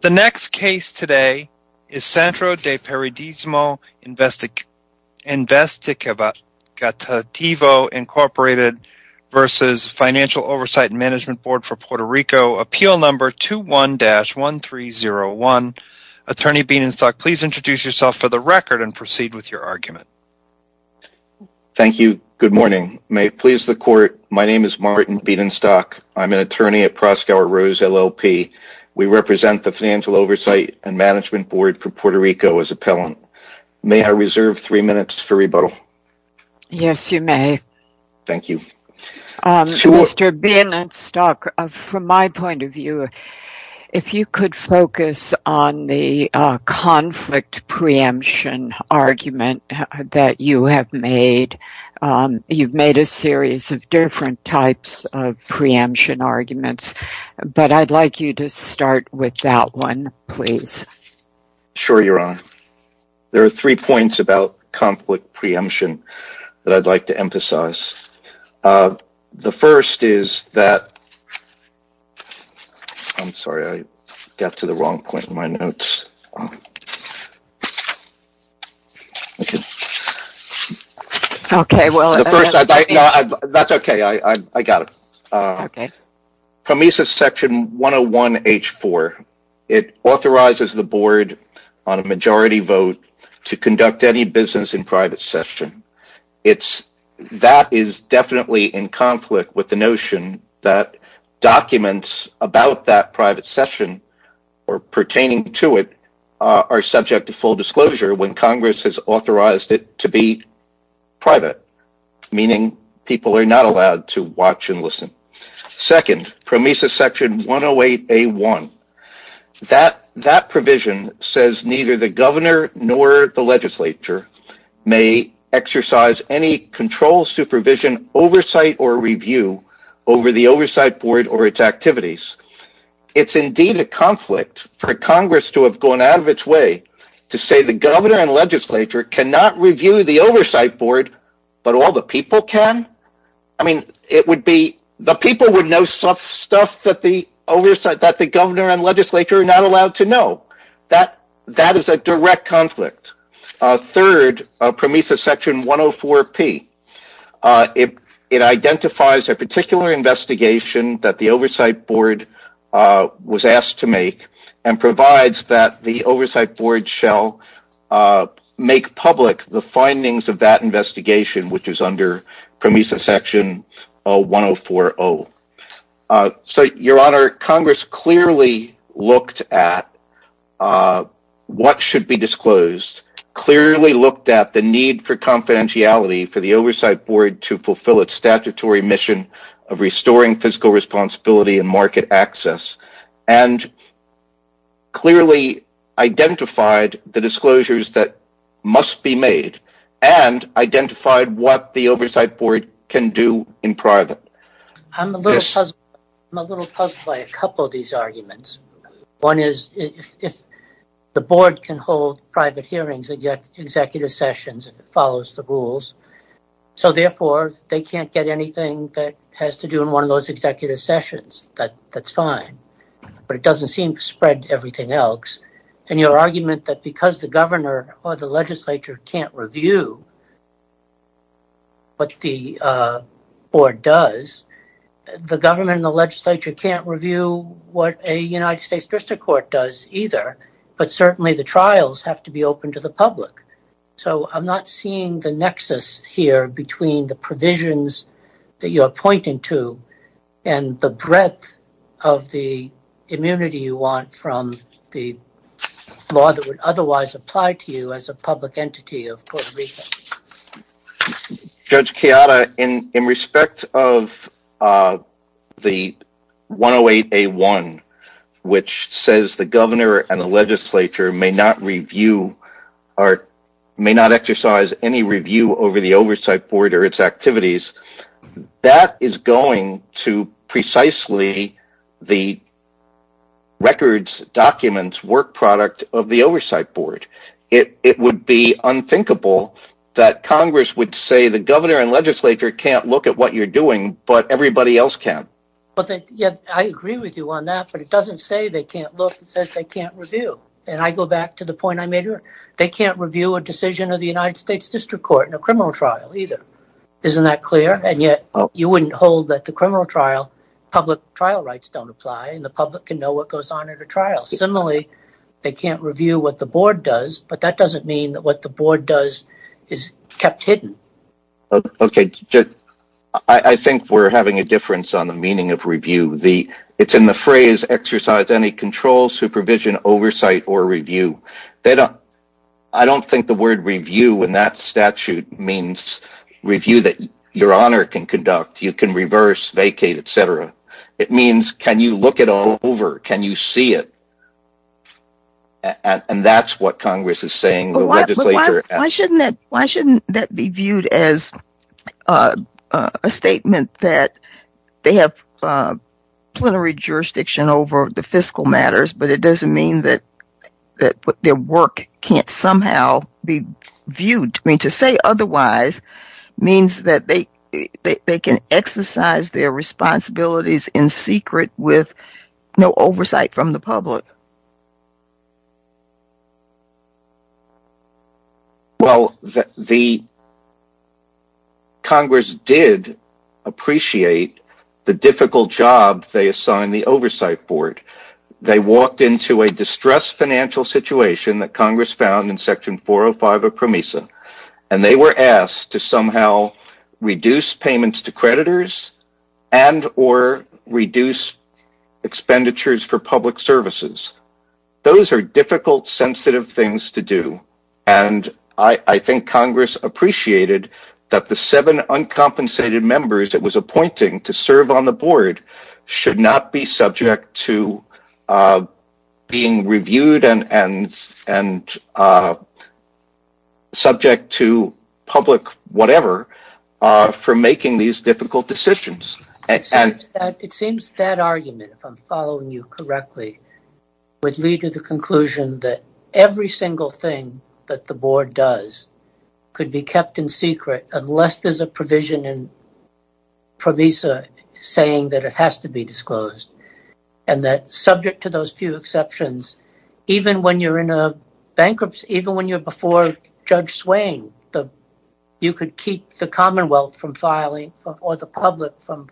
The next case today is Centro de Periodismo Investigativo, Inc. v. Financial Oversight and Management Board for Puerto Rico, Appeal Number 21-1301. Attorney Bedenstock, please introduce yourself for the record and proceed with your argument. Thank you. Good morning. May it please the Court, my name is Martin Bedenstock. I'm an attorney at Proskauer Rose LLP. We represent the Financial Oversight and Management Board for Puerto Rico as appellant. May I reserve three minutes for rebuttal? Yes, you may. Thank you. Mr. Bedenstock, from my point of view, if you could focus on the conflict preemption argument that you have made. You've made a series of different types of preemption arguments, but I'd like you to start with that one, please. Sure, Your Honor. There are three points about conflict preemption that I'd like to emphasize. The first is that... I'm sorry, I got to the wrong point in my notes. Okay, well... That's okay, I got it. Okay. In PROMESA section 101-H4, it authorizes the board on a majority vote to conduct any business in private session. That is definitely in conflict with the notion that documents about that private session or pertaining to it are subject to full disclosure when Congress has authorized it to be private, meaning people are not allowed to watch and listen. Second, PROMESA section 108-A1, that provision says neither the governor nor the legislature may exercise any control, supervision, oversight, or review over the oversight board or its activities. It's indeed a conflict for Congress to have gone out of its way to say the governor and legislature cannot review the oversight board, but all the people can? The people would know stuff that the governor and legislature are not allowed to know. That is a direct conflict. Third, PROMESA section 104-P. It identifies a particular investigation that the oversight board was asked to make and provides that the oversight board shall make public the findings of that investigation, which is under PROMESA section 104-O. Your Honor, Congress clearly looked at what should be disclosed, clearly looked at the need for confidentiality for the oversight board to fulfill its statutory mission of restoring fiscal responsibility and market access, and clearly identified the disclosures that must be made and identified what the oversight board can do in private. I'm a little puzzled by a couple of these arguments. One is if the board can hold private hearings and get executive sessions and it follows the rules, so therefore they can't get anything that has to do in one of those executive sessions. That's fine. But it doesn't seem to spread to everything else. And your argument that because the governor or the legislature can't review what the board does, the government and the legislature can't review what a United States district court does either, but certainly the trials have to be open to the public. So I'm not seeing the nexus here between the provisions that you're pointing to and the breadth of the immunity you want from the law that would otherwise apply to you as a public entity of Puerto Rico. Judge Chiara, in respect of the 108A1, which says the governor and the legislature may not exercise any review over the oversight board or its activities, that is going to precisely the records, documents, work product of the oversight board. It would be unthinkable that Congress would say the governor and legislature can't look at what you're doing, but everybody else can. I agree with you on that, but it doesn't say they can't look. It says they can't review. And I go back to the point I made earlier. They can't review a decision of the United States district court in a criminal trial either. Isn't that clear? And yet you wouldn't hold that the criminal trial, public trial rights don't apply and the public can know what goes on at a trial. Similarly, they can't review what the board does, but that doesn't mean that what the board does is kept hidden. I think we're having a difference on the meaning of review. It's in the phrase exercise any control, supervision, oversight, or review. I don't think the word review in that statute means review that your honor can conduct. You can reverse, vacate, etc. It means can you look it over? Can you see it? And that's what Congress is saying. Why shouldn't that be viewed as a statement that they have plenary jurisdiction over the fiscal matters, but it doesn't mean that their work can't somehow be viewed. To say otherwise means that they can exercise their responsibilities in secret with no oversight from the public. Well, Congress did appreciate the difficult job they assigned the oversight board. They walked into a distressed financial situation that Congress found in Section 405 of PROMESA, and they were asked to somehow reduce payments to creditors and or reduce expenditures for public services. Those are difficult, sensitive things to do, and I think Congress appreciated that the seven uncompensated members it was appointing to serve on the board should not be subject to being reviewed and subject to public whatever for making these difficult decisions. It seems that argument, if I'm following you correctly, would lead to the conclusion that every single thing that the board does could be kept in secret unless there's a provision in PROMESA saying that it has to be disclosed. Subject to those few exceptions, even when you're in a bankruptcy, even when you're before Judge Swain, you could keep the commonwealth from filing or the public from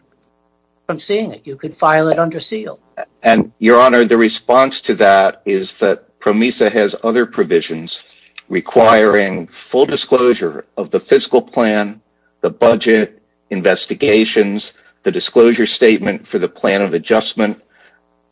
seeing it. You could file it under seal. Your Honor, the response to that is that PROMESA has other provisions requiring full disclosure of the fiscal plan, the budget investigations, the disclosure statement for the plan of adjustment.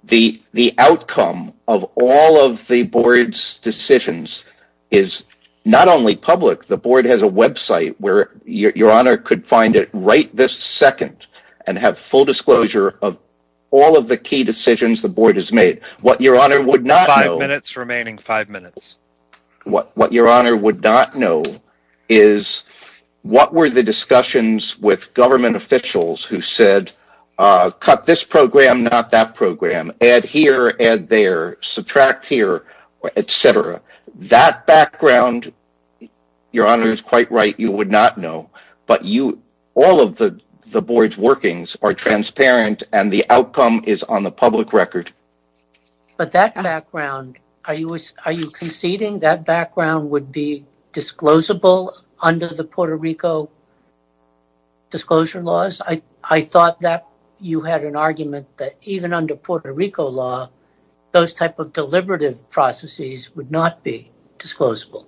The outcome of all of the board's decisions is not only public. The board has a website where Your Honor could find it right this second and have full disclosure of all of the key decisions the board has made. What Your Honor would not know is what were the discussions with government officials who said, ìCut this program, not that program.î That background, Your Honor is quite right, you would not know. All of the board's workings are transparent and the outcome is on the public record. But that background, are you conceding that background would be disclosable under the Puerto Rico disclosure laws? I thought that you had an argument that even under Puerto Rico law, those type of deliberative processes would not be disclosable.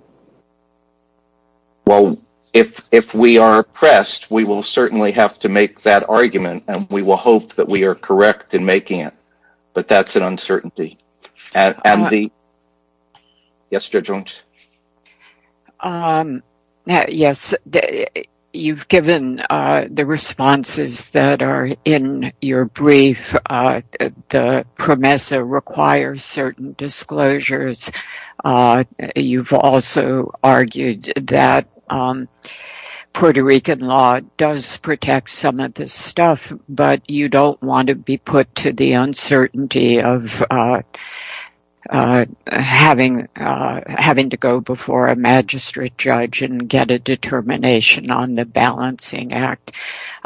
Well, if we are oppressed, we will certainly have to make that argument and we will hope that we are correct in making it. But that's an uncertainty. Yes, Judge Ong. Yes, you've given the responses that are in your brief. The PROMESA requires certain disclosures. You've also argued that Puerto Rican law does protect some of this stuff, but you don't want to be put to the uncertainty of having to go before a magistrate judge and get a determination on the balancing act.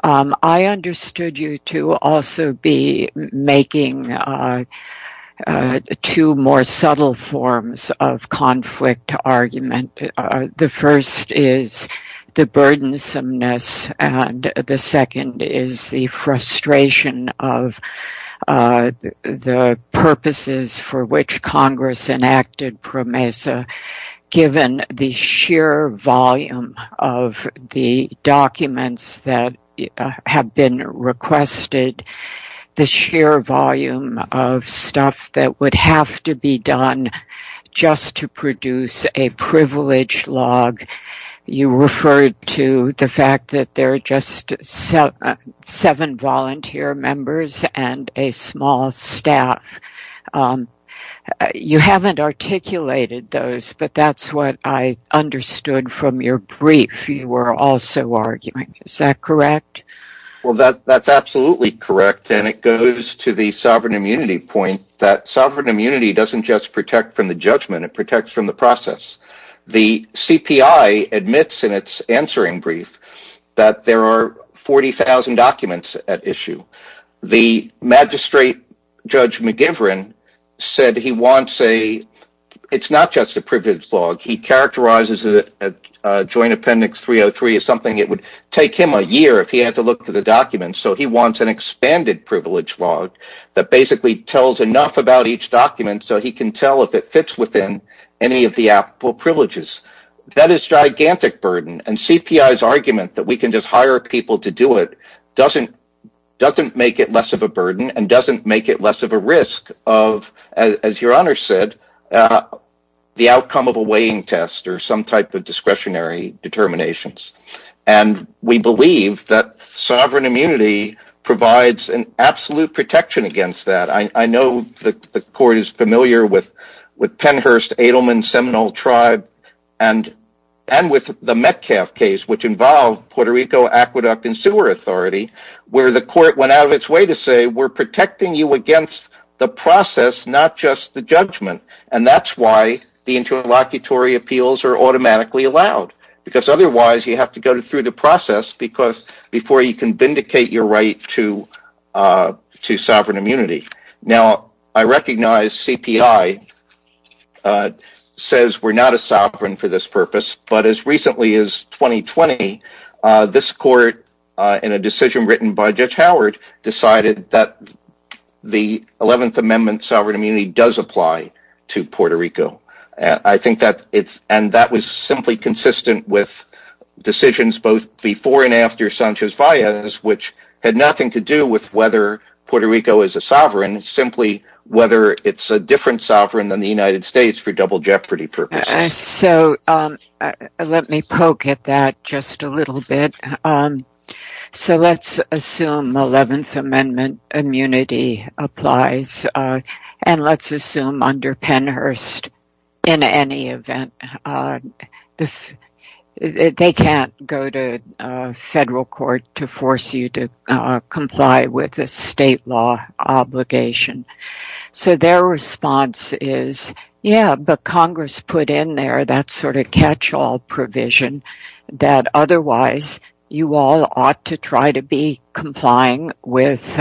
I understood you to also be making two more subtle forms of conflict argument. The first is the burdensomeness and the second is the frustration of the purposes for which Congress enacted PROMESA. Given the sheer volume of the documents that have been requested, the sheer volume of stuff that would have to be done just to produce a privilege log, you referred to the fact that there are just seven volunteer members and a small staff. You haven't articulated those, but that's what I understood from your brief. You were also arguing. Is that correct? That's absolutely correct. It goes to the sovereign immunity point that sovereign immunity doesn't just protect from the judgment. It protects from the process. The CPI admits in its answering brief that there are 40,000 documents at issue. The magistrate, Judge McGivern, said it's not just a privilege log. He characterized Joint Appendix 303 as something that would take him a year if he had to look through the documents, so he wants an expanded privilege log that basically tells enough about each document so he can tell if it fits within any of the applicable privileges. That is a gigantic burden, and CPI's argument that we can just hire people to do it doesn't make it less of a burden and doesn't make it less of a risk of the outcome of a weighing test or some type of discretionary determinations. We believe that sovereign immunity provides an absolute protection against that. I know the court is familiar with Penhurst, Edelman, Seminole Tribe, and with the Metcalf case, which involved Puerto Rico Aqueduct and Sewer Authority, where the court went out of its way to say we're protecting you against the process, not just the judgment. That's why the interlocutory appeals are automatically allowed because otherwise you have to go through the process before you can vindicate your right to sovereign immunity. I recognize CPI says we're not a sovereign for this purpose, but as recently as 2020, this court in a decision written by Judge Howard decided that the Eleventh Amendment sovereign immunity does apply to Puerto Rico. That was simply consistent with decisions both before and after Sanchez-Valles, which had nothing to do with whether Puerto Rico is a sovereign, simply whether it's a different sovereign than the United States for double jeopardy purposes. In any event, they can't go to federal court to force you to comply with a state law obligation. Their response is, yeah, but Congress put in there that sort of catch-all provision that otherwise you all ought to try to be complying with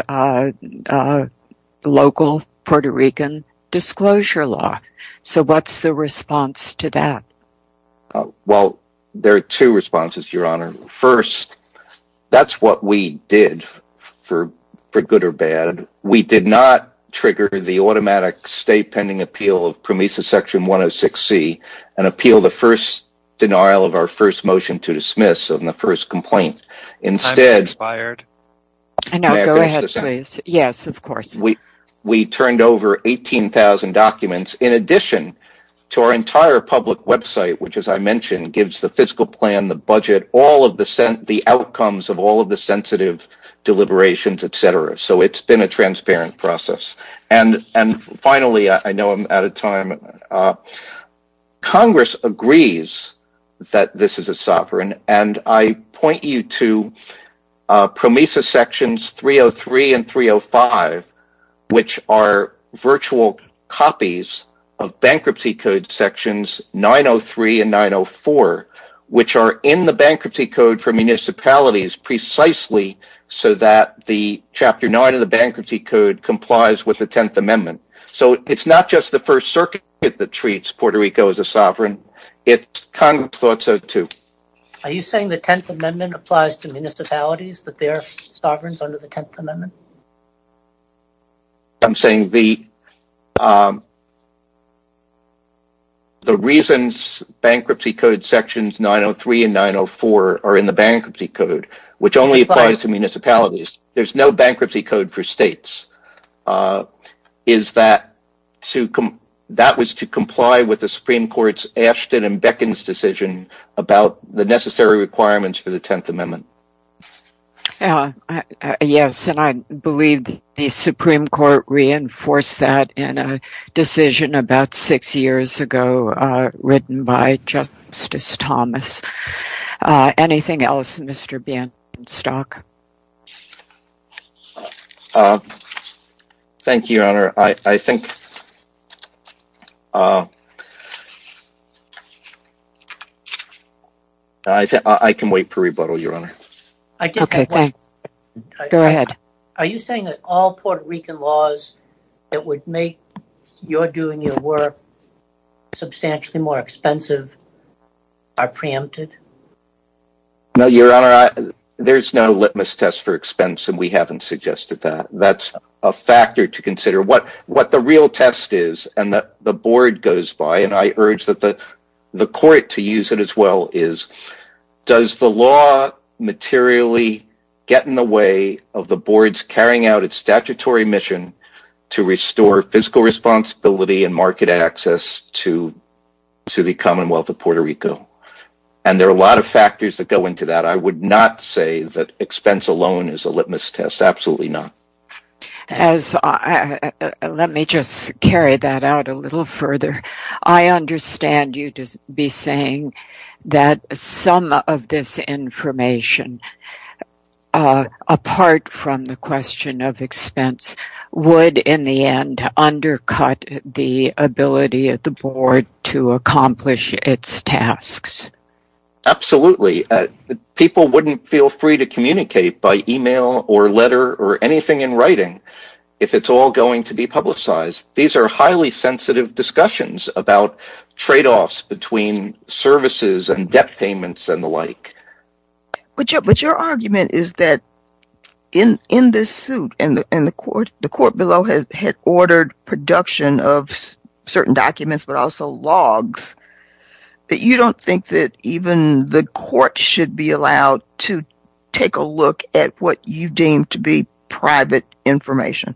local Puerto Rican disclosure law. What's the response to that? There are two responses, Your Honor. First, that's what we did, for good or bad. We did not trigger the automatic state-pending appeal of PROMESA Section 106C and appeal the first denial of our first motion to dismiss on the first complaint. Instead, we turned over 18,000 documents in addition to our entire public website, which as I mentioned, gives the fiscal plan, the budget, the outcomes of all of the sensitive deliberations, etc., so it's been a transparent process. Finally, Congress agrees that this is a sovereign, and I point you to PROMESA Sections 303 and 305, which are virtual copies of Bankruptcy Code Sections 903 and 904, which are in the Bankruptcy Code for municipalities precisely so that Chapter 9 of the Bankruptcy Code complies with the Tenth Amendment. It's not just the First Circuit that treats Puerto Rico as a sovereign. Congress thought so, too. Are you saying the Tenth Amendment applies to municipalities, that they are sovereigns under the Tenth Amendment? I'm saying the reasons Bankruptcy Code Sections 903 and 904 are in the Bankruptcy Code, which only applies to municipalities, there's no Bankruptcy Code for states, is that that was to comply with the Supreme Court's Ashton and Beckins decision about the necessary requirements for the Tenth Amendment. Yes, and I believe the Supreme Court reinforced that in a decision about six years ago written by Justice Thomas. Anything else, Mr. Bainstock? Thank you, Your Honor. I think I can wait for rebuttal, Your Honor. Go ahead. Are you saying that all Puerto Rican laws that would make your doing your work substantially more expensive are preempted? No, Your Honor. There's no litmus test for expense, and we haven't suggested that. That's a factor to consider. What the real test is and the board goes by, and I urge the court to use it as well, is does the law materially get in the way of the board's carrying out its statutory mission to restore fiscal responsibility and market access to the Commonwealth of Puerto Rico? There are a lot of factors that go into that. I would not say that expense alone is a litmus test, absolutely not. Let me just carry that out a little further. I understand you to be saying that some of this information, apart from the question of expense, would in the end undercut the ability of the board to accomplish its tasks. Absolutely. People wouldn't feel free to communicate by email or letter or anything in writing if it's all going to be publicized. These are highly sensitive discussions about tradeoffs between services and debt payments and the like. But your argument is that in this suit, and the court below had ordered production of certain documents but also logs, that you don't think that even the court should be allowed to take a look at what you deem to be private information.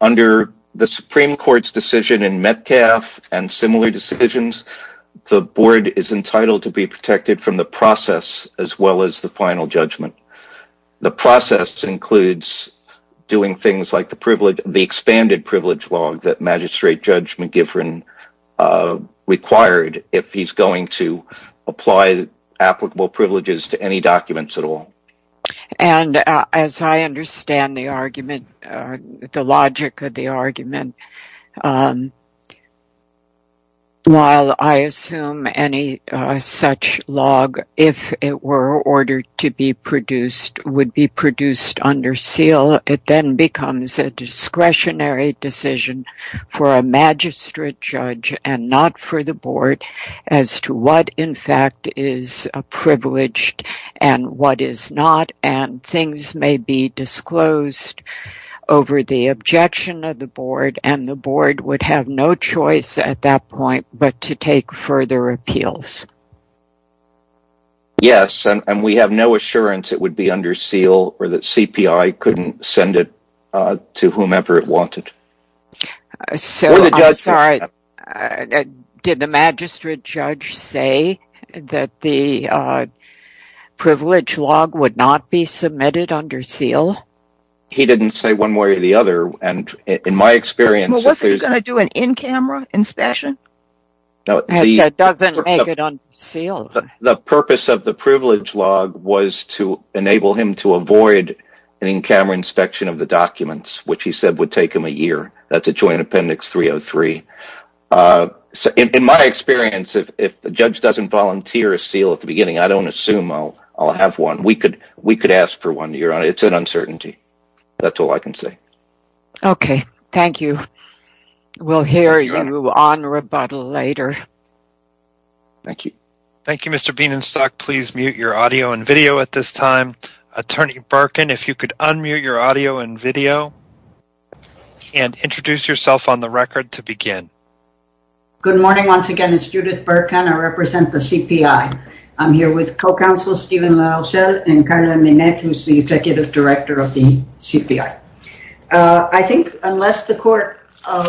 Under the Supreme Court's decision in Metcalf and similar decisions, the board is entitled to be protected from the process as well as the final judgment. The process includes doing things like the expanded privilege log that Magistrate Judge McGivern required if he's going to apply applicable privileges to any documents at all. As I understand the logic of the argument, while I assume any such log, if it were ordered to be produced, would be produced under seal, it then becomes a discretionary decision for a Magistrate Judge and not for the board as to what in fact is privileged and what is not. Things may be disclosed over the objection of the board and the board would have no choice at that point but to take further appeals. Yes, and we have no assurance that it would be under seal or that CPI couldn't send it to whomever it wanted. Did the Magistrate Judge say that the privilege log would not be submitted under seal? He didn't say one way or the other. Wasn't he going to do an in-camera inspection? That doesn't make it under seal. The purpose of the privilege log was to enable him to avoid an in-camera inspection of the documents, which he said would take him a year. That's a Joint Appendix 303. In my experience, if a judge doesn't volunteer a seal at the beginning, I don't assume I'll have one. We could ask for one, Your Honor. It's an uncertainty. That's all I can say. Okay. Thank you. We'll hear you on rebuttal later. Thank you. Thank you, Mr. Bienenstock. Please mute your audio and video at this time. Attorney Birkin, if you could unmute your audio and video and introduce yourself on the record to begin. Good morning. Once again, it's Judith Birkin. I represent the CPI. I'm here with co-counsel Stephen LaRochelle and Carla Minette, who's the executive director of the CPI. I think unless the court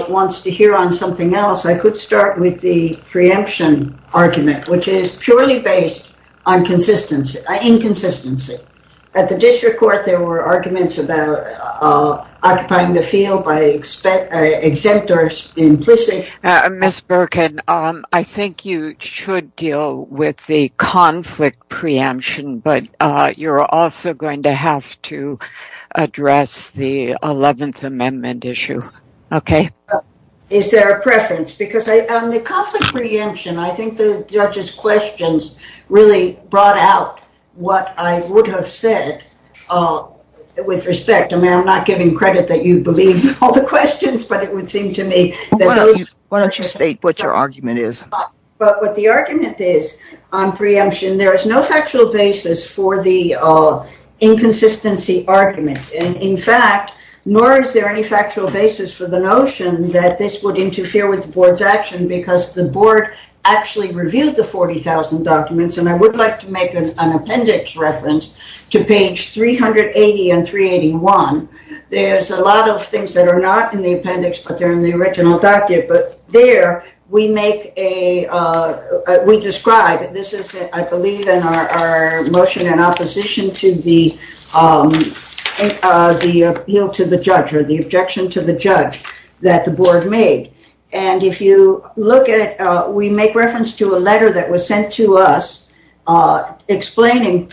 wants to hear on something else, I could start with the preemption argument, which is purely based on inconsistency. At the district court, there were arguments about occupying the field by exempt or implicit. Ms. Birkin, I think you should deal with the conflict preemption, but you're also going to have to address the 11th Amendment issue. Okay. Is there a preference? Because on the conflict preemption, I think the judge's questions really brought out what I would have said with respect. I mean, I'm not giving credit that you believe all the questions, but it would seem to me that... Why don't you state what your argument is? But what the argument is on preemption, there is no factual basis for the inconsistency argument. In fact, nor is there any factual basis for the notion that this would interfere with the board's action because the board actually reviewed the 40,000 documents. And I would like to make an appendix reference to page 380 and 381. There's a lot of things that are not in the appendix, but they're in the original document. But there, we describe, this is, I believe, in our motion in opposition to the appeal to the judge or the objection to the judge that the board made. And if you look at, we make reference to a letter that was sent to us explaining,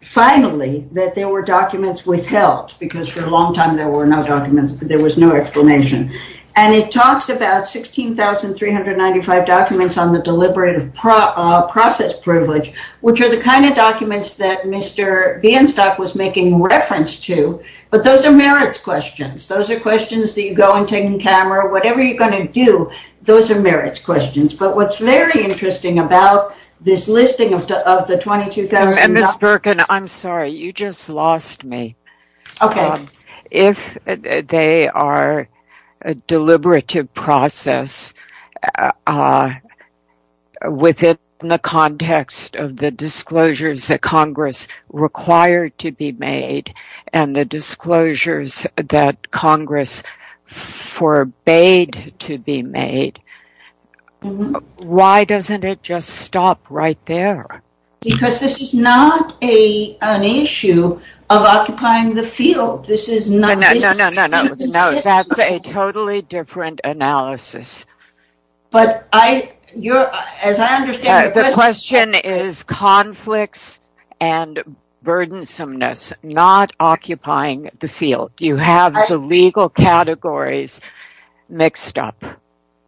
finally, that there were documents withheld because for a long time there were no documents, there was no explanation. And it talks about 16,395 documents on the deliberative process privilege, which are the kind of documents that Mr. Bienstock was making reference to. But those are merits questions. Those are questions that you go and take in camera. Whatever you're going to do, those are merits questions. But what's very interesting about this listing of the 22,000... Ms. Birkin, I'm sorry. You just lost me. Okay. If they are a deliberative process within the context of the disclosures that Congress required to be made and the disclosures that Congress forbade to be made, why doesn't it just stop right there? Because this is not an issue of occupying the field. No, no, no. That's a totally different analysis. But as I understand it... The question is conflicts and burdensomeness, not occupying the field. You have the legal categories mixed up.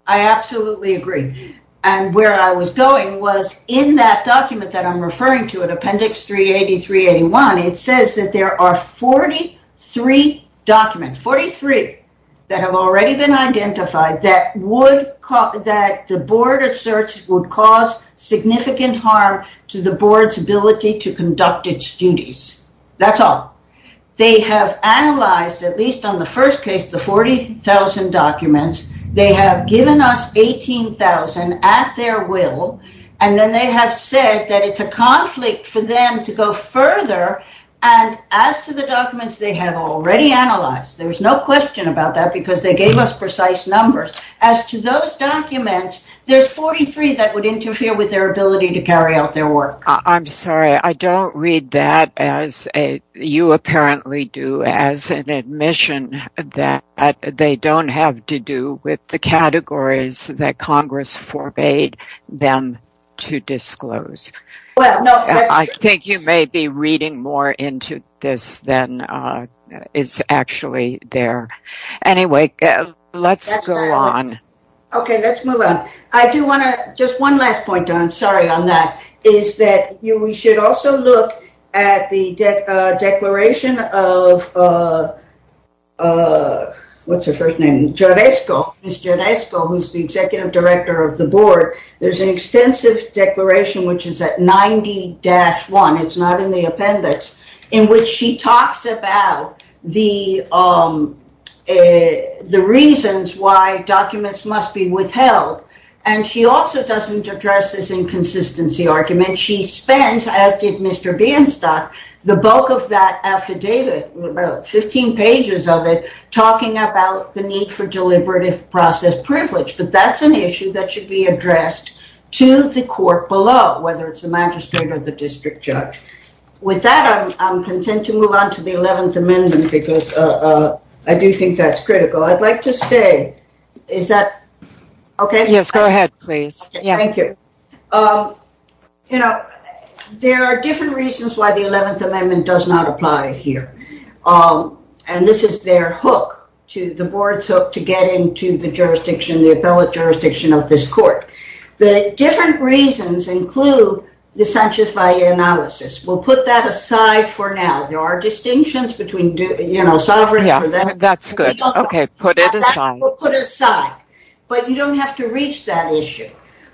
I absolutely agree. And where I was going was in that document that I'm referring to in Appendix 383-81, it says that there are 43 documents, 43 that have already been identified, that the board asserts would cause significant harm to the board's ability to conduct its duties. That's all. They have analyzed, at least on the first case, the 40,000 documents. They have given us 18,000 at their will. And then they have said that it's a conflict for them to go further. And as to the documents they have already analyzed, there's no question about that because they gave us precise numbers. As to those documents, there's 43 that would interfere with their ability to carry out their work. I'm sorry, I don't read that, as you apparently do, as an admission that they don't have to do with the categories that Congress forbade them to disclose. I think you may be reading more into this than is actually there. Anyway, let's go on. Okay, let's move on. I do want to, just one last point, I'm sorry on that, is that we should also look at the declaration of, what's her first name? And she also doesn't address this inconsistency argument. She spends, as did Mr. Bienstock, the bulk of that affidavit, 15 pages of it, talking about the need for deliberative process privilege. But that's an issue that should be addressed to the court below, whether it's the magistrate or the district judge. With that, I'm content to move on to the 11th Amendment because I do think that's critical. I'd like to stay. Is that okay? Yes, go ahead, please. Thank you. You know, there are different reasons why the 11th Amendment does not apply here. And this is their hook, the board's hook, to get into the jurisdiction, the appellate jurisdiction of this court. The different reasons include the Sanchez-Valle analysis. We'll put that aside for now. There are distinctions between, you know, sovereignty for them. That's good. We'll put it aside. But you don't have to reach that issue.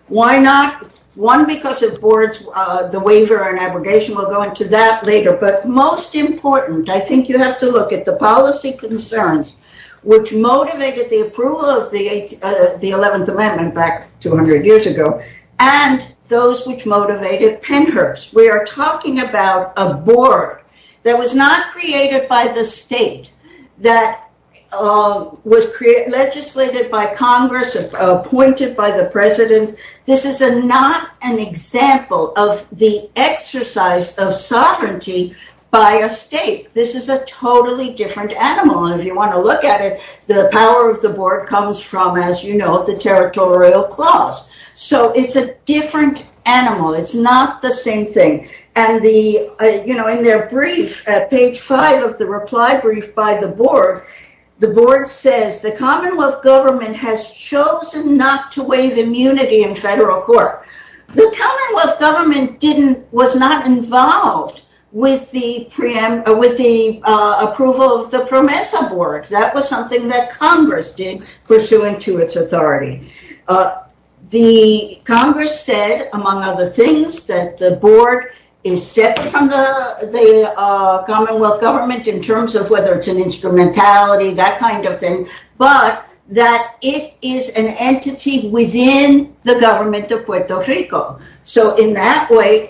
Why not? One, because of the waiver and abrogation. We'll go into that later. But most important, I think you have to look at the policy concerns, which motivated the approval of the 11th Amendment back 200 years ago. And those which motivated Pennhurst. We are talking about a board that was not created by the state, that was legislated by Congress, appointed by the president. This is not an example of the exercise of sovereignty by a state. This is a totally different animal. And if you want to look at it, the power of the board comes from, as you know, the territorial clause. So, it's a different animal. It's not the same thing. And the, you know, in their brief, page five of the reply brief by the board, the board says, the Commonwealth government has chosen not to waive immunity in federal court. The Commonwealth government was not involved with the approval of the PROMESA board. That was something that Congress did, pursuant to its authority. The Congress said, among other things, that the board is separate from the Commonwealth government in terms of whether it's an instrumentality, that kind of thing, but that it is an entity within the government of Puerto Rico. So, in that way,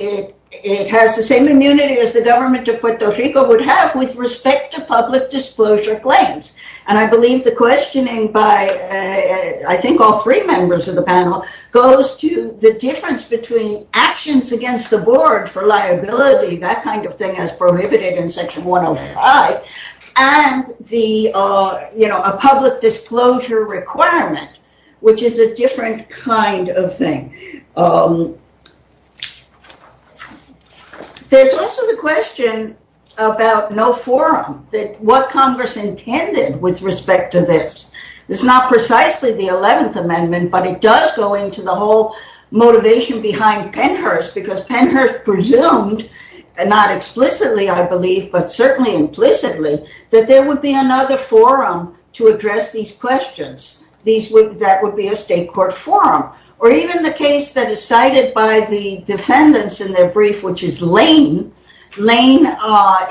it has the same immunity as the government of Puerto Rico would have with respect to public disclosure claims. And I believe the questioning by, I think, all three members of the panel goes to the difference between actions against the board for liability, that kind of thing, as prohibited in section 105, and the, you know, a public disclosure requirement, which is a different kind of thing. There's also the question about no forum, that what Congress intended with respect to this. It's not precisely the 11th Amendment, but it does go into the whole motivation behind Pennhurst, because Pennhurst presumed, and not explicitly, I believe, but certainly implicitly, that there would be another forum to address these questions. That would be a state court forum. Or even the case that is cited by the defendants in their brief, which is Lane. Lane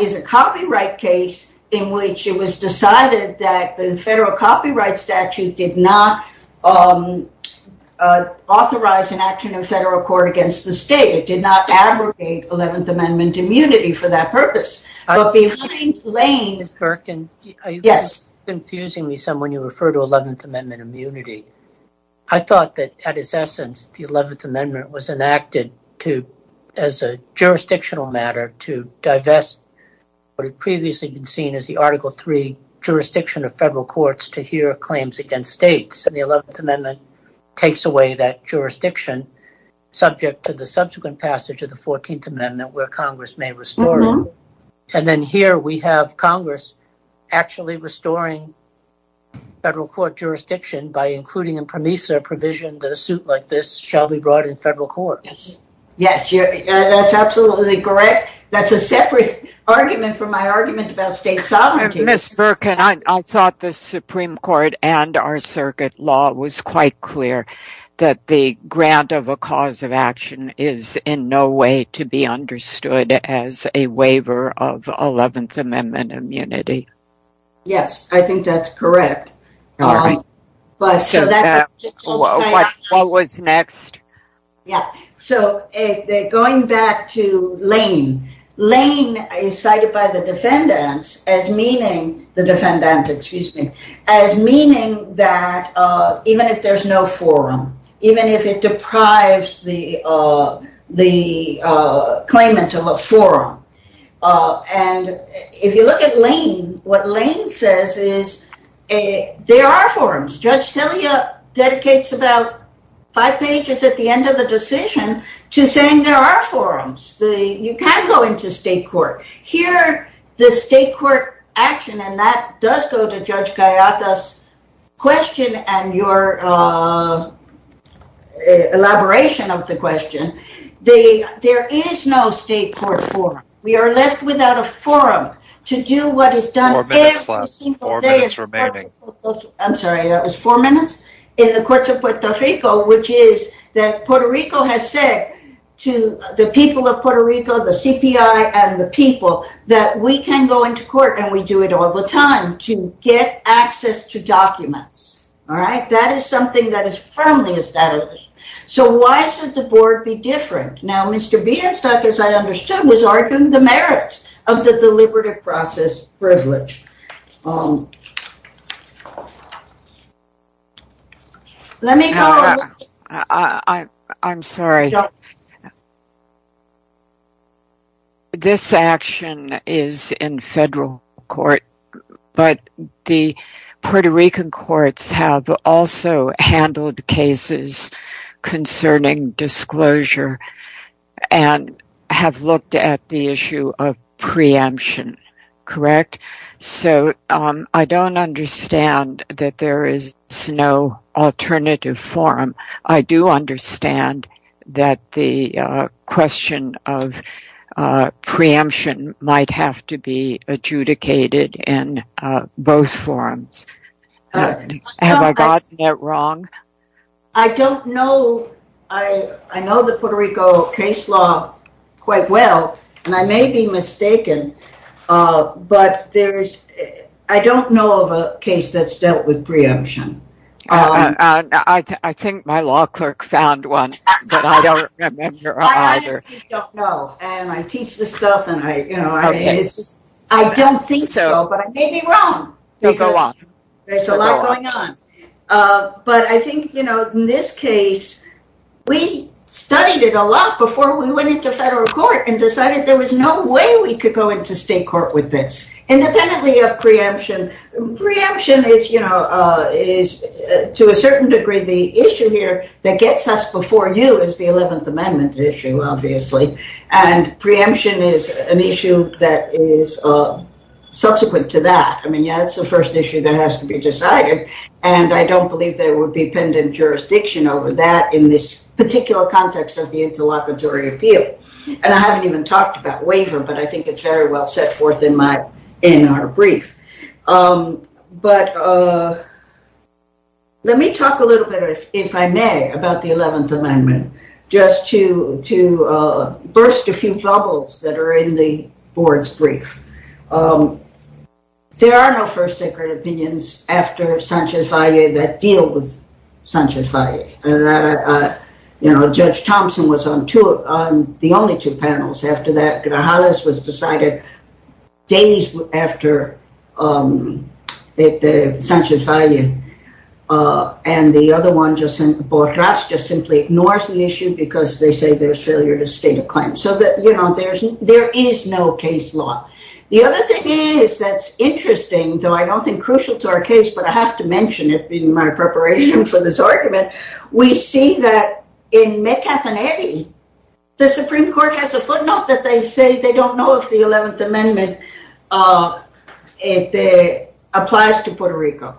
is a copyright case in which it was decided that the federal copyright statute did not authorize an action in federal court against the state. It did not abrogate 11th Amendment immunity for that purpose. But behind Lane... Ms. Birkin, you're confusing me some when you refer to 11th Amendment immunity. I thought that, at its essence, the 11th Amendment was enacted to, as a jurisdictional matter, to divest what had previously been seen as the Article III jurisdiction of federal courts to hear claims against states. And the 11th Amendment takes away that jurisdiction, subject to the subsequent passage of the 14th Amendment, where Congress may restore it. And then here we have Congress actually restoring federal court jurisdiction by including in PROMESA provision that a suit like this shall be brought in federal court. Yes, that's absolutely correct. That's a separate argument from my argument about state sovereignty. Ms. Birkin, I thought the Supreme Court and our circuit law was quite clear that the grant of a cause of action is in no way to be understood as a waiver of 11th Amendment immunity. Yes, I think that's correct. All right. What was next? So, going back to Lane, Lane is cited by the defendants as meaning that even if there's no forum, even if it deprives the claimant of a forum. And if you look at Lane, what Lane says is there are forums. Judge Celia dedicates about five pages at the end of the decision to saying there are forums. You can't go into state court. Here, the state court action, and that does go to Judge Gallardo's question and your elaboration of the question, there is no state court forum. We are left without a forum to do what is done every single day. I'm sorry, that was four minutes. In the courts of Puerto Rico, which is that Puerto Rico has said to the people of Puerto Rico, the CPI and the people, that we can go into court and we do it all the time to get access to documents. All right, that is something that is firmly established. So, why should the board be different? Now, Mr. Bienstock, as I understood, was arguing the merits of the deliberative process privilege. I'm sorry, this action is in federal court, but the Puerto Rican courts have also handled cases concerning disclosure and have looked at the issue of preemption, correct? So, I don't understand that there is no alternative forum. I do understand that the question of preemption might have to be adjudicated in both forums. I don't know. I know the Puerto Rico case law quite well, and I may be mistaken, but I don't know of a case that's dealt with preemption. I think my law clerk found one, but I don't remember either. I honestly don't know, and I teach this stuff, and I don't think so, but maybe wrong. There's a lot going on. But I think in this case, we studied it a lot before we went into federal court and decided there was no way we could go into state court with this, independently of preemption. Preemption is, to a certain degree, the issue here that gets us before you is the 11th Amendment issue, obviously. And preemption is an issue that is subsequent to that. I mean, yeah, it's the first issue that has to be decided. I don't believe there would be pendent jurisdiction over that in this particular context of the interlocutory appeal. And I haven't even talked about waiver, but I think it's very well set forth in our brief. But let me talk a little bit, if I may, about the 11th Amendment, just to burst a few bubbles that are in the board's brief. There are no first secret opinions after Sanchez-Faillé that deal with Sanchez-Faillé. Judge Thompson was on the only two panels after that. Grajales was decided days after Sanchez-Faillé. And the other one, Borràs, just simply ignores the issue because they say there's failure to state a claim. There is no case law. The other thing is that's interesting, though I don't think crucial to our case, but I have to mention it in my preparation for this argument, we see that in Mecafenetti, the Supreme Court has a footnote that they say they don't know if the 11th Amendment applies to Puerto Rico.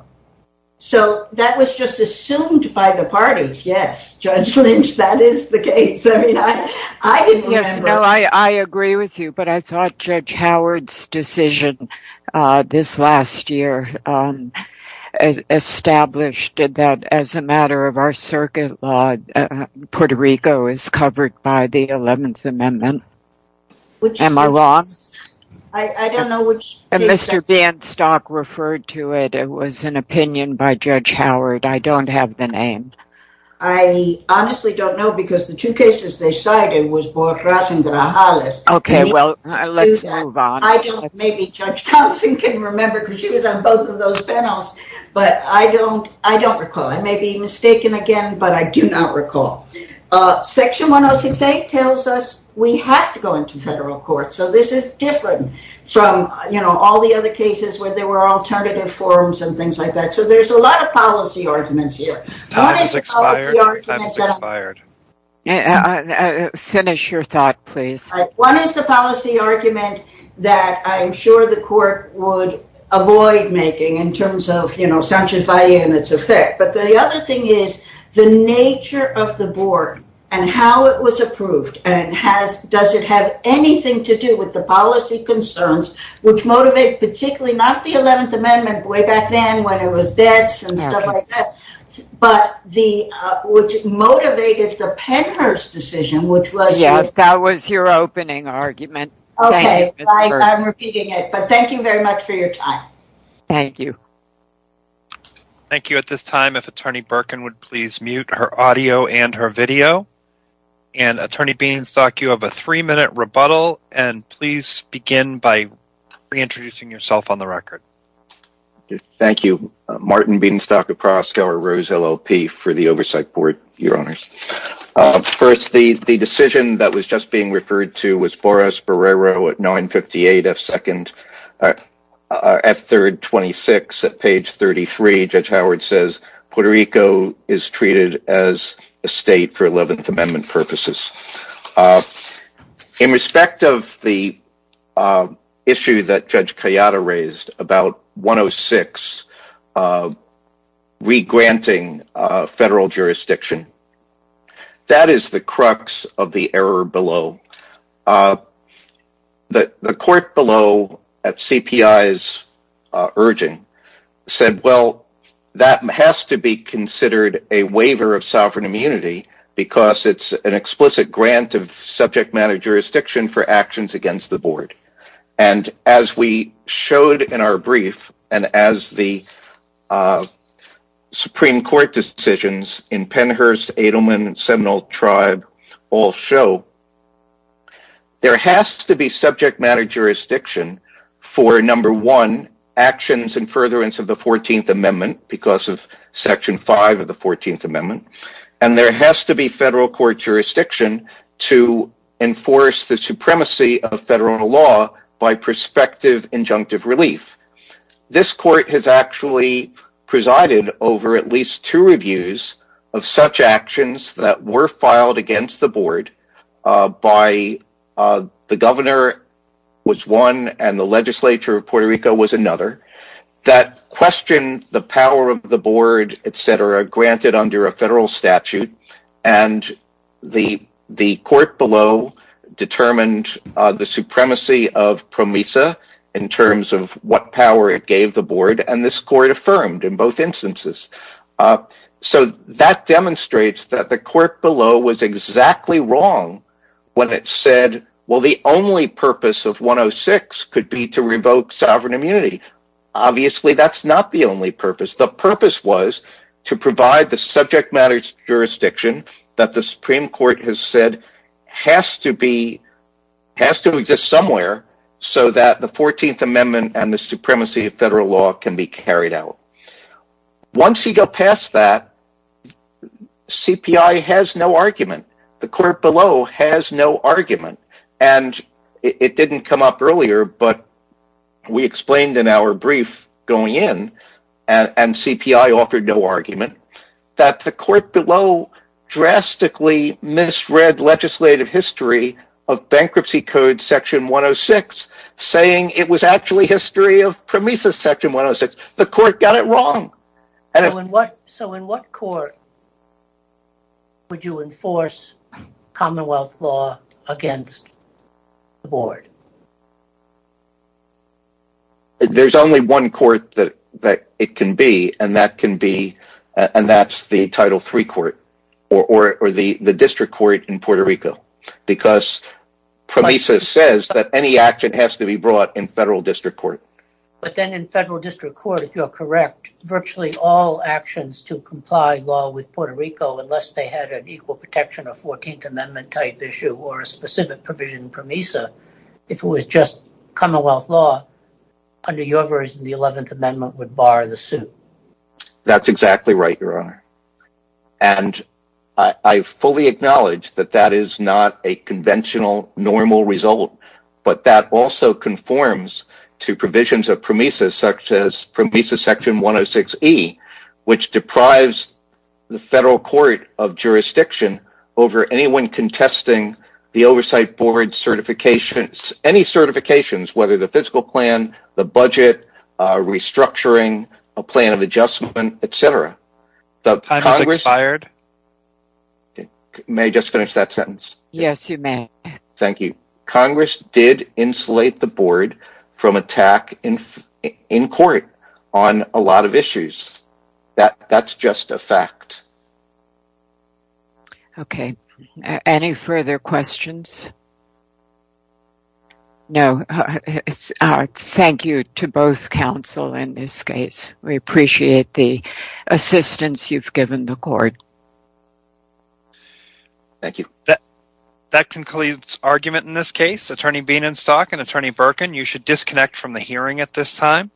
So that was just assumed by the parties. Yes, Judge Lynch, that is the case. Yes, no, I agree with you. But I thought Judge Howard's decision this last year established that as a matter of our circuit law, Puerto Rico is covered by the 11th Amendment. Am I wrong? I don't know which case that is. Mr. Banstock referred to it. It was an opinion by Judge Howard. I don't have the name. I honestly don't know because the two cases they cited was Borràs and Grajales. Okay, well, let's move on. Maybe Judge Thompson can remember because she was on both of those panels. But I don't recall. I may be mistaken again, but I do not recall. Section 1068 tells us we have to go into federal court. So this is different from all the other cases where there were alternative forms and things like that. So there's a lot of policy arguments here. Time has expired. Finish your thought, please. One is the policy argument that I'm sure the court would avoid making in terms of, you know, Sanchez-Valle and its effect. But the other thing is the nature of the board and how it was approved and does it have anything to do with the policy concerns, which motivate particularly not the 11th Amendment way back then when it was debts and stuff like that. But what motivated the Penner's decision, which was... Yes, that was your opening argument. Okay, I'm repeating it. But thank you very much for your time. Thank you. Thank you. At this time, if Attorney Birkin would please mute her audio and her video. And Attorney Beenstock, you have a three minute rebuttal. And please begin by reintroducing yourself on the record. Thank you. Martin Beenstock of Proskauer Rose, LLP for the Oversight Board, Your Honors. First, the decision that was just being referred to was Borges-Barrero at 958 F-3rd 26 at page 33. Judge Howard says Puerto Rico is treated as a state for 11th Amendment purposes. In respect of the issue that Judge Kayada raised about 106 re-granting federal jurisdiction, that is the crux of the error below. The court below at CPI's urging said, well, that has to be considered a waiver of sovereign immunity because it's an explicit grant of subject matter jurisdiction for actions against the board. And as we showed in our brief, and as the Supreme Court decisions in Pennhurst, Edelman, Seminole Tribe all show, there has to be subject matter jurisdiction for, number one, actions in furtherance of the 14th Amendment because of Section 5 of the 14th Amendment. And there has to be federal court jurisdiction to enforce the supremacy of federal law by prospective injunctive relief. This court has actually presided over at least two reviews of such actions that were filed against the board by the governor was one and the legislature of Puerto Rico was another that questioned the power of the board, etc., granted under a federal statute. And the court below determined the supremacy of PROMISA in terms of what power it gave the board, and this court affirmed in both instances. So that demonstrates that the court below was exactly wrong when it said, well, the only purpose of 106 could be to revoke sovereign immunity. Obviously, that's not the only purpose. The purpose was to provide the subject matter jurisdiction that the Supreme Court has said has to exist somewhere so that the 14th Amendment and the supremacy of federal law can be carried out. Once you go past that, CPI has no argument. The court below has no argument. And it didn't come up earlier, but we explained in our brief going in, and CPI offered no argument, that the court below drastically misread legislative history of Bankruptcy Code Section 106, saying it was actually history of PROMISA Section 106. That's wrong! So in what court would you enforce Commonwealth law against the board? There's only one court that it can be, and that's the Title III court, or the district court in Puerto Rico, because PROMISA says that any action has to be brought in federal district court. But then in federal district court, if you're correct, virtually all actions to comply law with Puerto Rico, unless they had an equal protection of 14th Amendment type issue, or a specific provision PROMISA, if it was just Commonwealth law, under your version, the 11th Amendment would bar the suit. That's exactly right, Your Honor. And I fully acknowledge that that is not a conventional normal result, but that also conforms to provisions of PROMISA, such as PROMISA Section 106E, which deprives the federal court of jurisdiction over anyone contesting the Oversight Board certifications, any certifications, whether the physical plan, the budget, restructuring, a plan of adjustment, etc. Time has expired. May I just finish that sentence? Yes, you may. PROMISA did insulate the board from attack in court on a lot of issues. That's just a fact. Okay. Any further questions? No. Thank you to both counsel in this case. We appreciate the assistance you've given the court. Thank you. That concludes argument in this case. Attorney Bienenstock and Attorney Birkin, you should disconnect from the hearing at this time.